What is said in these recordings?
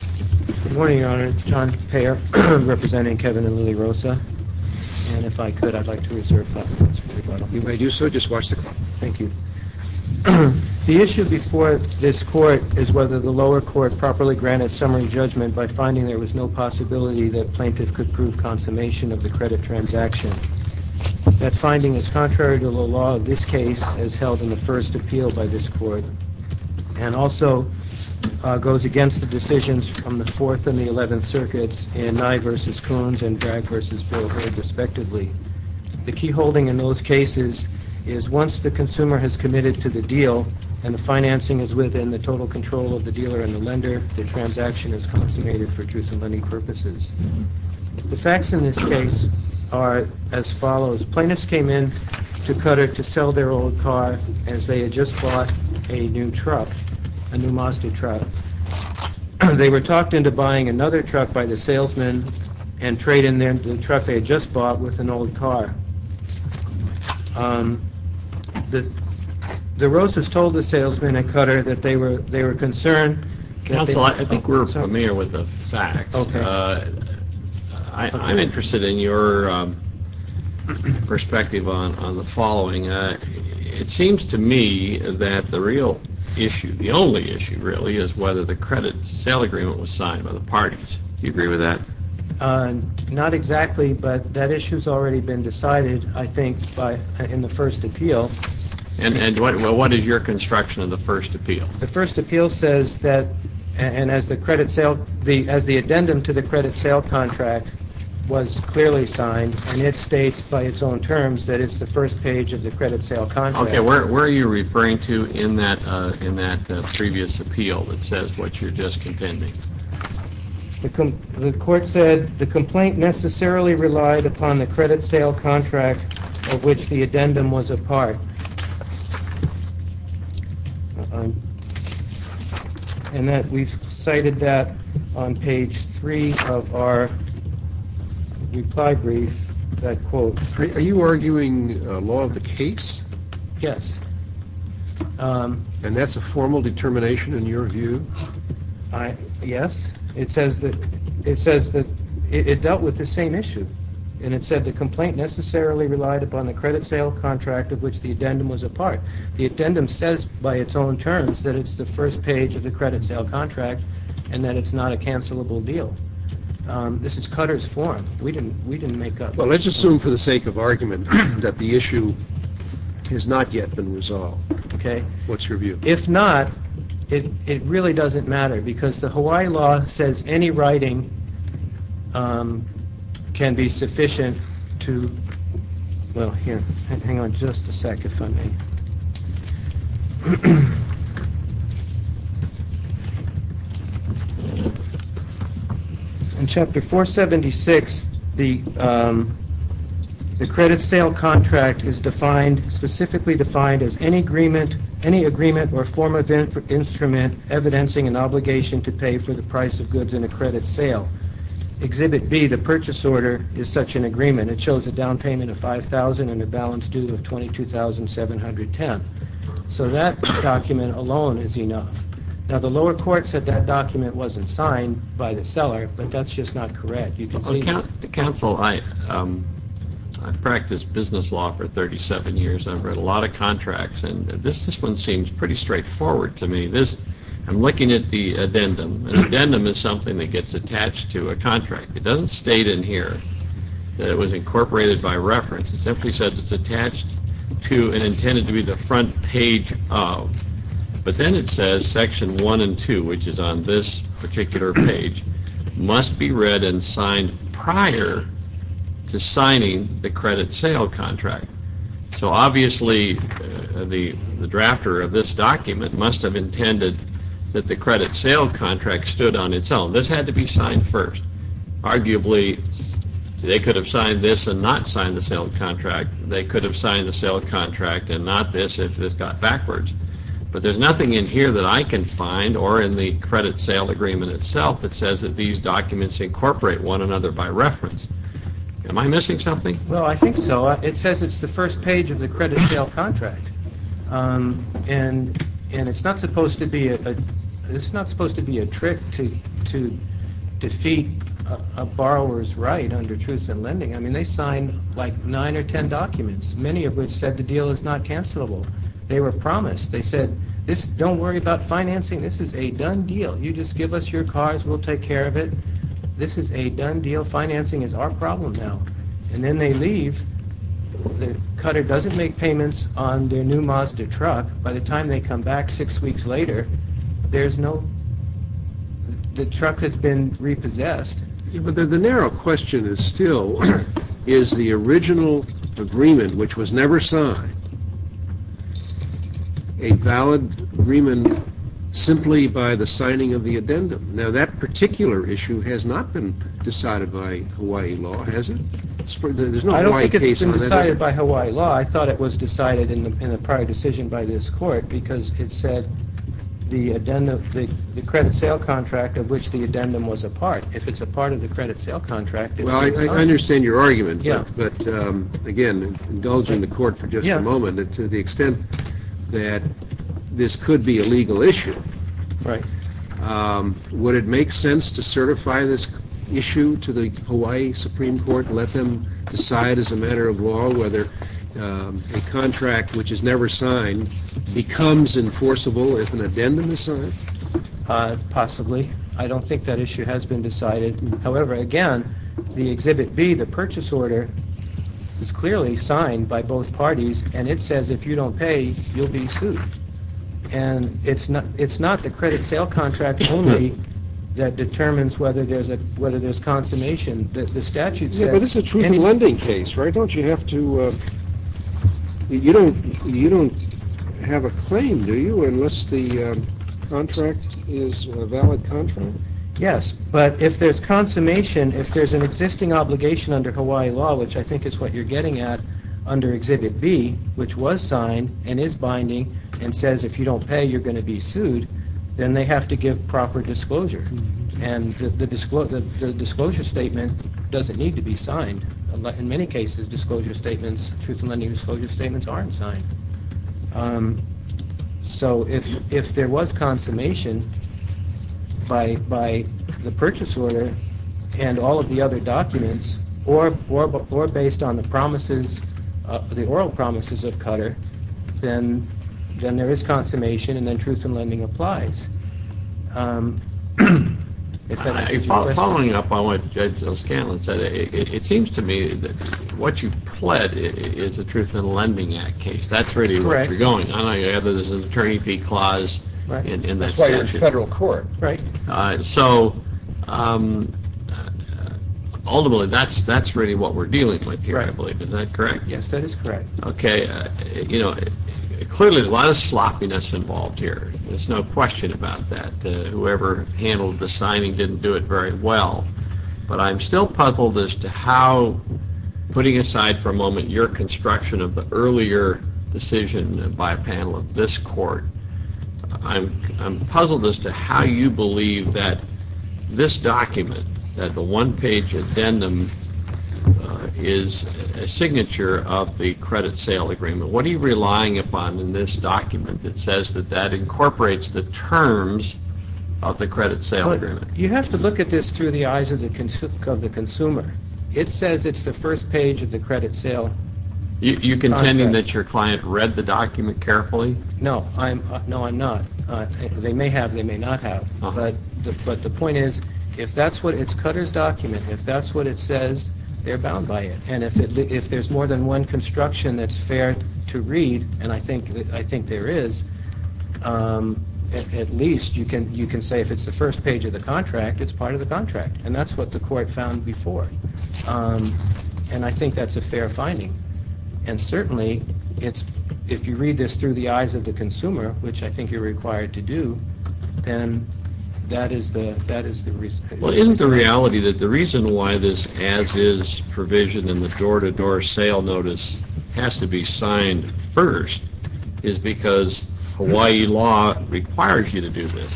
Good morning, Your Honor. John Peyer, representing Kevin and Lily Rosa, and if I could, I'd like to reserve five minutes for rebuttal. You may do so. Just watch the clock. Thank you. The issue before this Court is whether the lower court properly granted summary judgment by finding there was no possibility that plaintiff could prove consummation of the credit transaction. That finding is contrary to the law of this case, as held in the first appeal by this Court, and also goes against the decisions from the Fourth and the Eleventh Circuits in Nye v. Coons and Bragg v. Boehrer, respectively. The key holding in those cases is once the consumer has committed to the deal and the financing is within the total control of the dealer and the lender, the transaction is consummated for truth-in-lending purposes. The facts in this case are as follows. Plaintiffs came in to Cutter to sell their old car as they had just bought a new truck, a new Mazda truck. They were talked into buying another truck by the salesman and trading the truck they had just bought with an old car. The Rosas told the salesman at Cutter that they were concerned... I'm interested in your perspective on the following. It seems to me that the real issue, the only issue really, is whether the credit sale agreement was signed by the parties. Do you agree with that? Not exactly, but that issue's already been decided, I think, in the first appeal. And what is your construction of the first appeal? The first appeal says that, and as the addendum to the credit sale contract was clearly signed, and it states by its own terms that it's the first page of the credit sale contract. Okay, where are you referring to in that previous appeal that says what you're just contending? The court said the complaint necessarily relied upon the credit sale contract of which the addendum was a part. And that we've cited that on page three of our reply brief, that quote. Are you arguing law of the case? Yes. And that's a formal determination in your view? Yes. It says that it dealt with the same issue, and it said the complaint necessarily relied upon the credit sale contract of which the addendum was a part. The addendum says by its own terms that it's the first page of the credit sale contract, and that it's not a cancelable deal. This is Cutter's form. We didn't make up that. Well, let's assume for the sake of argument that the issue has not yet been resolved. Okay. What's your view? If not, it really doesn't matter because the Hawaii law says any writing can be sufficient to... Well, here, hang on just a second for me. In chapter 476, the credit sale contract is specifically defined as any agreement or form of instrument evidencing an obligation to pay for the price of goods in a credit sale. Exhibit B, the purchase order, is such an agreement. It shows a down payment of $5,000 and a balance due of $22,710. So that document alone is enough. Now, the lower court said that document wasn't signed by the seller, but that's just not correct. You can see... Counsel, I've practiced business law for 37 years. I've read a lot of contracts, and this one seems pretty straightforward to me. I'm looking at the addendum. An addendum is something that gets attached to a contract. It doesn't state in here that it was incorporated by reference. It simply says it's attached to and intended to be the front page of. But then it says Section 1 and 2, which is on this particular page, must be read and signed prior to signing the credit sale contract. So, obviously, the drafter of this document must have intended that the credit sale contract stood on its own. This had to be signed first. Arguably, they could have signed this and not signed the sale contract. They could have signed the sale contract and not this if this got backwards. But there's nothing in here that I can find or in the credit sale agreement itself that says that these documents incorporate one another by reference. Am I missing something? Well, I think so. It says it's the first page of the credit sale contract, and it's not supposed to be a trick to defeat a borrower's right under Truths in Lending. I mean, they signed, like, nine or ten documents, many of which said the deal is not cancelable. They were promised. They said, don't worry about financing. This is a done deal. You just give us your cars. We'll take care of it. This is a done deal. Financing is our problem now. And then they leave. The cutter doesn't make payments on their new Mazda truck. By the time they come back six weeks later, there's no – the truck has been repossessed. But the narrow question is still, is the original agreement, which was never signed, a valid agreement simply by the signing of the addendum? Now, that particular issue has not been decided by Hawaii law, has it? There's no Hawaii case on that, is there? I don't think it's been decided by Hawaii law. I thought it was decided in a prior decision by this court because it said the addendum – the credit sale contract of which the addendum was a part. If it's a part of the credit sale contract – Well, I understand your argument, but, again, indulging the court for just a moment, to the extent that this could be a legal issue. Right. Would it make sense to certify this issue to the Hawaii Supreme Court and let them decide as a matter of law whether a contract which is never signed becomes enforceable if an addendum is signed? Possibly. I don't think that issue has been decided. However, again, the Exhibit B, the purchase order, is clearly signed by both parties, and it says if you don't pay, you'll be sued. And it's not the credit sale contract only that determines whether there's consummation. The statute says – Yeah, but this is a truth-in-lending case, right? Don't you have to – you don't have a claim, do you, unless the contract is a valid contract? Yes, but if there's consummation, if there's an existing obligation under Hawaii law, which I think is what you're getting at under Exhibit B, which was signed and is binding and says if you don't pay, you're going to be sued, then they have to give proper disclosure. And the disclosure statement doesn't need to be signed. In many cases, disclosure statements, truth-in-lending disclosure statements, aren't signed. So if there was consummation by the purchase order and all of the other documents, or based on the promises, the oral promises of Cutter, then there is consummation, and then truth-in-lending applies. Following up on what Judge O'Scanlan said, it seems to me that what you've pled is a truth-in-lending act case. That's really where you're going. I don't know whether there's an attorney fee clause in that statute. That's why you're in federal court, right? So ultimately, that's really what we're dealing with here, I believe. Is that correct? Yes, that is correct. Okay, you know, clearly a lot of sloppiness involved here. There's no question about that. Whoever handled the signing didn't do it very well. But I'm still puzzled as to how, putting aside for a moment your construction of the earlier decision by a panel of this court, I'm puzzled as to how you believe that this document, that the one-page addendum, is a signature of the credit-sale agreement. What are you relying upon in this document that says that that incorporates the terms of the credit-sale agreement? You have to look at this through the eyes of the consumer. It says it's the first page of the credit-sale contract. You're contending that your client read the document carefully? No, I'm not. They may have, they may not have. But the point is, it's Cutter's document. If that's what it says, they're bound by it. And if there's more than one construction that's fair to read, and I think there is, at least you can say if it's the first page of the contract, it's part of the contract. And that's what the court found before. And I think that's a fair finding. And certainly, if you read this through the eyes of the consumer, which I think you're required to do, then that is the reason. Well, isn't the reality that the reason why this as-is provision in the door-to-door sale notice has to be signed first is because Hawaii law requires you to do this?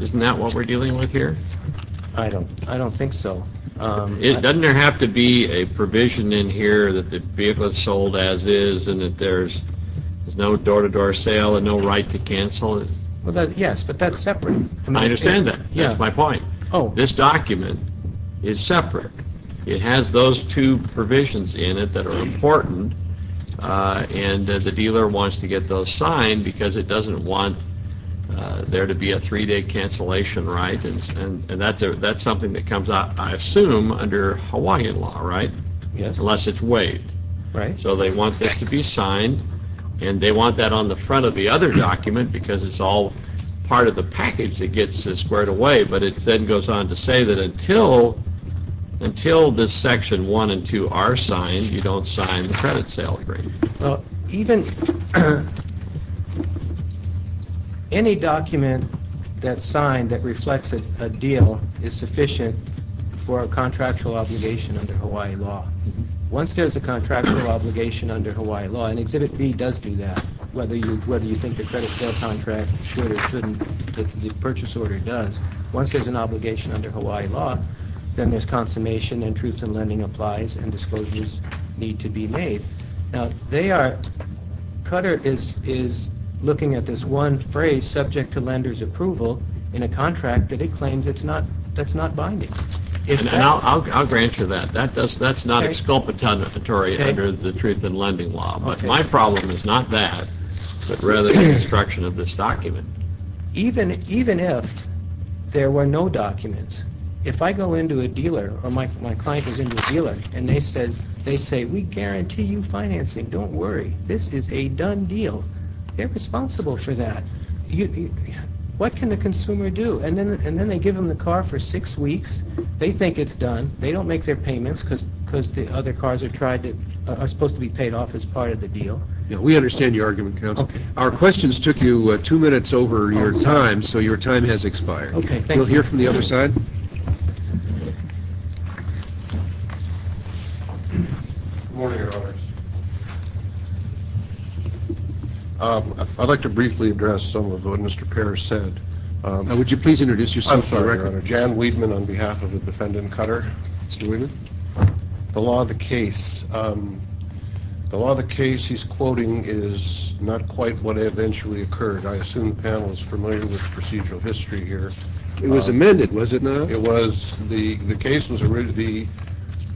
Isn't that what we're dealing with here? I don't think so. Doesn't there have to be a provision in here that the vehicle is sold as-is and that there's no door-to-door sale and no right to cancel it? Yes, but that's separate. I understand that. That's my point. This document is separate. It has those two provisions in it that are important, and the dealer wants to get those signed because it doesn't want there to be a three-day cancellation, right? And that's something that comes out, I assume, under Hawaiian law, right? Yes. Unless it's waived. Right. So they want this to be signed, and they want that on the front of the other document because it's all part of the package that gets squared away. But it then goes on to say that until this Section 1 and 2 are signed, you don't sign the credit sale agreement. Well, even any document that's signed that reflects a deal is sufficient for a contractual obligation under Hawaiian law. Once there's a contractual obligation under Hawaiian law, and Exhibit B does do that, whether you think the credit sale contract should or shouldn't, the purchase order does, once there's an obligation under Hawaiian law, then there's consummation and truth in lending applies and disclosures need to be made. Now, Cutter is looking at this one phrase, subject to lender's approval, in a contract that it claims that's not binding. And I'll grant you that. That's not exculpatory under the truth in lending law. But my problem is not that, but rather the construction of this document. Even if there were no documents, if I go into a dealer, or my client is in a dealer, and they say, we guarantee you financing. Don't worry. This is a done deal. They're responsible for that. What can the consumer do? And then they give them the car for six weeks. They think it's done. They don't make their payments because the other cars are supposed to be paid off as part of the deal. We understand your argument, counsel. Our questions took you two minutes over your time, so your time has expired. We'll hear from the other side. Good morning, Your Honors. I'd like to briefly address some of what Mr. Pearce said. Would you please introduce yourself? I'm sorry, Your Honor. Jan Weidman on behalf of the defendant, Cutter. Mr. Weidman. The law of the case. The law of the case he's quoting is not quite what eventually occurred. I assume the panel is familiar with the procedural history here. It was amended, was it not? It was.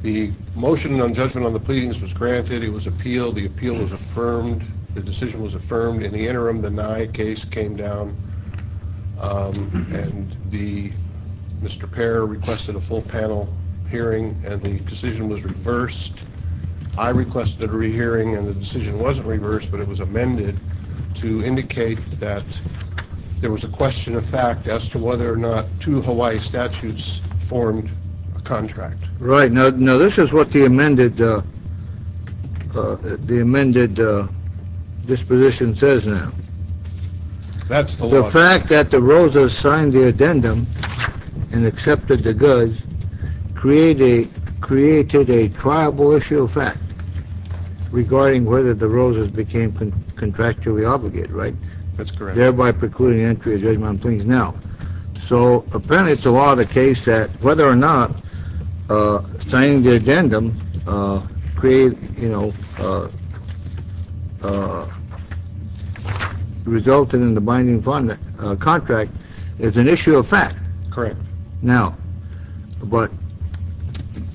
The motion on judgment on the pleadings was granted. It was appealed. The appeal was affirmed. The decision was affirmed. In the interim, the nigh case came down, and Mr. Pearce requested a full panel hearing, and the decision was reversed. I requested a re-hearing, and the decision wasn't reversed, but it was amended to indicate that there was a question of fact as to whether or not two Hawaii statutes formed a contract. Right. Now, this is what the amended disposition says now. That's the law. The fact that the Rosas signed the addendum and accepted the goods created a triable issue of fact regarding whether the Rosas became contractually obligated, right? That's correct. Thereby precluding entry of judgment on pleadings now. So, apparently it's the law of the case that whether or not signing the addendum created, you know, resulted in the binding contract is an issue of fact. Correct. Now, but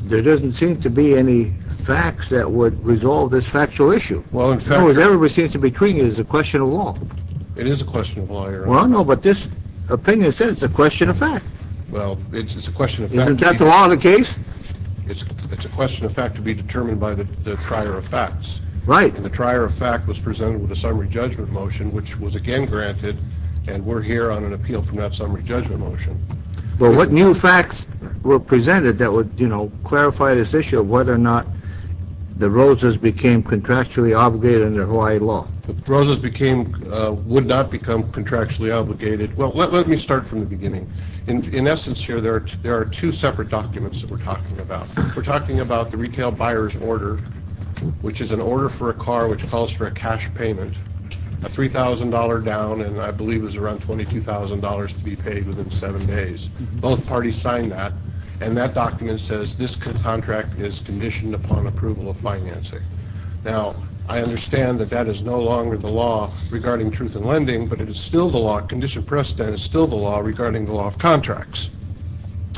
there doesn't seem to be any facts that would resolve this factual issue. Well, in fact. Everybody seems to be treating it as a question of law. It is a question of law, Your Honor. Well, no, but this opinion says it's a question of fact. Well, it's a question of fact. Isn't that the law of the case? It's a question of fact to be determined by the trier of facts. Right. And the trier of fact was presented with a summary judgment motion, which was again granted, and we're here on an appeal from that summary judgment motion. Well, what new facts were presented that would, you know, clarify this issue of whether or not the Rosas became contractually obligated under Hawaii law? The Rosas would not become contractually obligated. Well, let me start from the beginning. In essence here, there are two separate documents that we're talking about. We're talking about the retail buyer's order, which is an order for a car which calls for a cash payment, a $3,000 down, and I believe it was around $22,000 to be paid within seven days. Both parties signed that, and that document says this contract is conditioned upon approval of financing. Now, I understand that that is no longer the law regarding truth in lending, but it is still the law, conditioned precedent is still the law regarding the law of contracts.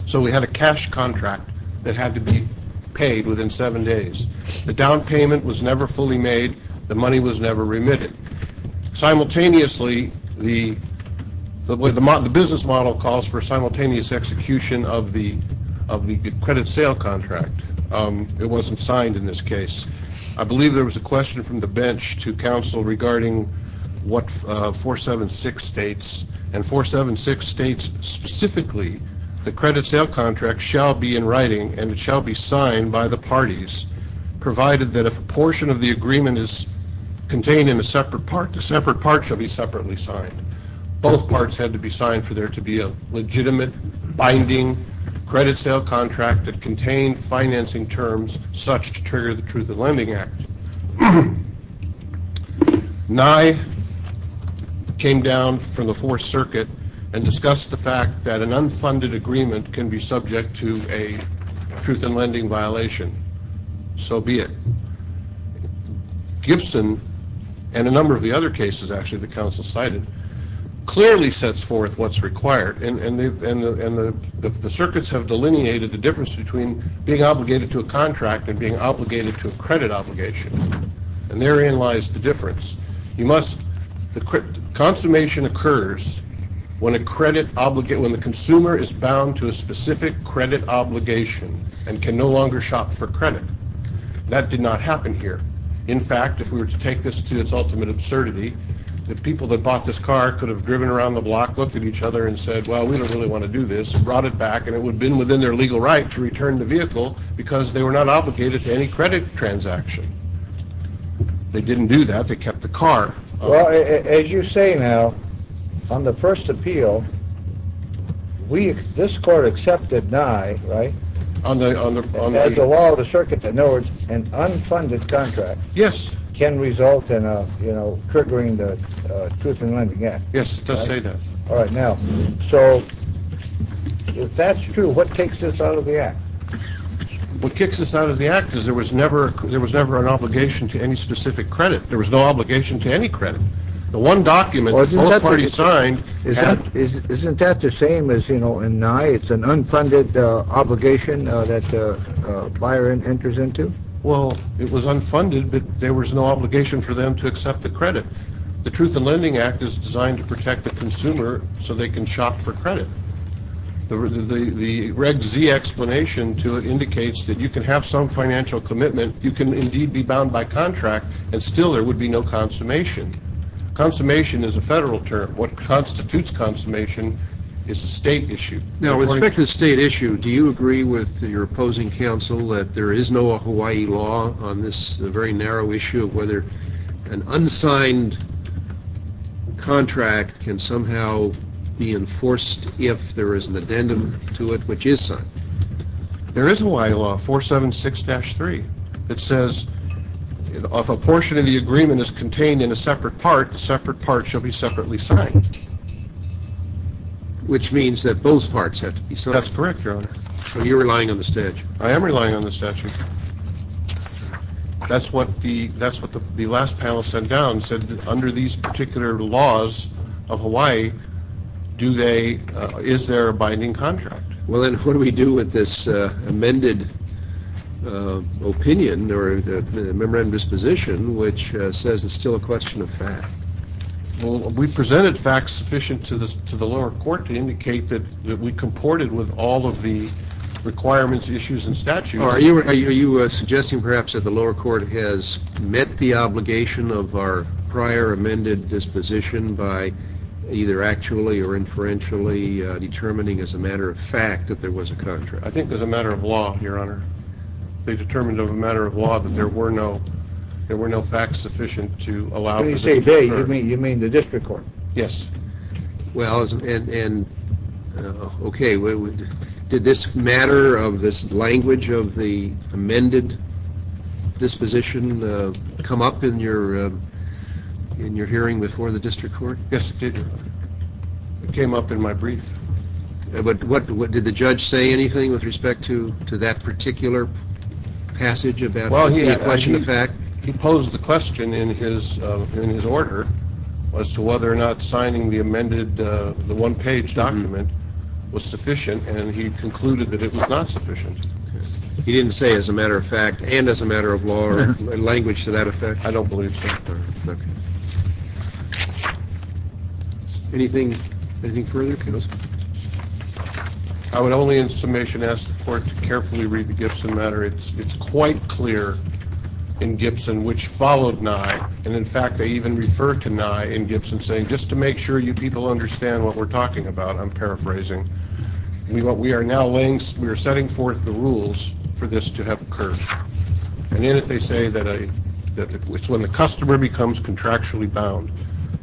So we had a cash contract that had to be paid within seven days. The down payment was never fully made. The money was never remitted. Simultaneously, the business model calls for simultaneous execution of the credit sale contract. It wasn't signed in this case. I believe there was a question from the bench to counsel regarding what 476 states, and 476 states specifically the credit sale contract shall be in writing and it shall be signed by the parties provided that if a portion of the agreement is contained in a separate part, the separate part shall be separately signed. Both parts had to be signed for there to be a legitimate binding credit sale contract that contained financing terms such to trigger the Truth in Lending Act. Nye came down from the Fourth Circuit and discussed the fact that an unfunded agreement can be subject to a truth in lending violation. So be it. Gibson and a number of the other cases actually that counsel cited clearly sets forth what's required, and the circuits have delineated the difference between being obligated to a contract and being obligated to a credit obligation, and therein lies the difference. Consummation occurs when the consumer is bound to a specific credit obligation and can no longer shop for credit. That did not happen here. In fact, if we were to take this to its ultimate absurdity, the people that bought this car could have driven around the block, looked at each other and said, well, we don't really want to do this, brought it back, and it would have been within their legal right to return the vehicle because they were not obligated to any credit transaction. They didn't do that. They kept the car. Well, as you say now, on the first appeal, this court accepted Nye, right? As a law of the circuit, in other words, an unfunded contract can result in triggering the Truth in Lending Act. Yes, it does say that. All right, now, so if that's true, what takes this out of the Act? What kicks this out of the Act is there was never an obligation to any specific credit. There was no obligation to any credit. The one document both parties signed had... Well, it was unfunded, but there was no obligation for them to accept the credit. The Truth in Lending Act is designed to protect the consumer so they can shop for credit. The Reg Z explanation to it indicates that you can have some financial commitment, you can indeed be bound by contract, and still there would be no consummation. Consummation is a federal term. What constitutes consummation is a state issue. Now, with respect to the state issue, do you agree with your opposing counsel that there is no Hawaii law on this very narrow issue of whether an unsigned contract can somehow be enforced if there is an addendum to it which is signed? There is a Hawaii law, 476-3. It says if a portion of the agreement is contained in a separate part, the separate part shall be separately signed, which means that both parts have to be signed. That's correct, Your Honor. So you're relying on the statute? I am relying on the statute. That's what the last panel sent down, said that under these particular laws of Hawaii, is there a binding contract? Well, then what do we do with this amended opinion or memorandum disposition which says it's still a question of fact? Well, we presented facts sufficient to the lower court to indicate that we comported with all of the requirements, issues, and statutes. Are you suggesting perhaps that the lower court has met the obligation of our prior amended disposition by either actually or inferentially determining as a matter of fact that there was a contract? I think as a matter of law, Your Honor. They determined as a matter of law that there were no facts sufficient to allow for this. When you say they, you mean the district court? Yes. Well, and okay, did this matter of this language of the amended disposition come up in your hearing before the district court? Yes, it did. It came up in my brief. But did the judge say anything with respect to that particular passage about a question of fact? He posed the question in his order as to whether or not signing the amended one-page document was sufficient, and he concluded that it was not sufficient. He didn't say as a matter of fact and as a matter of law or language to that effect? I don't believe so, Your Honor. Okay. Anything further? I would only in summation ask the court to carefully read the Gibson matter. It's quite clear in Gibson which followed Nye, and, in fact, they even refer to Nye in Gibson saying, just to make sure you people understand what we're talking about, I'm paraphrasing, we are now laying, we are setting forth the rules for this to have occurred. And in it they say that it's when the customer becomes contractually bound.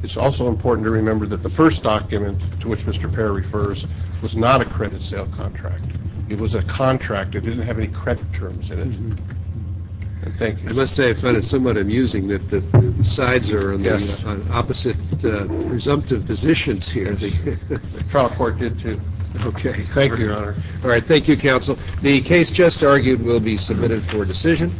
It's also important to remember that the first document to which Mr. Perry refers was not a credit sale contract. It was a contract. It didn't have any credit terms in it. And thank you. I must say I find it somewhat amusing that the sides are on opposite presumptive positions here. Yes. The trial court did too. Okay. Thank you, Your Honor. All right. Thank you, counsel. The case just argued will be submitted for decision.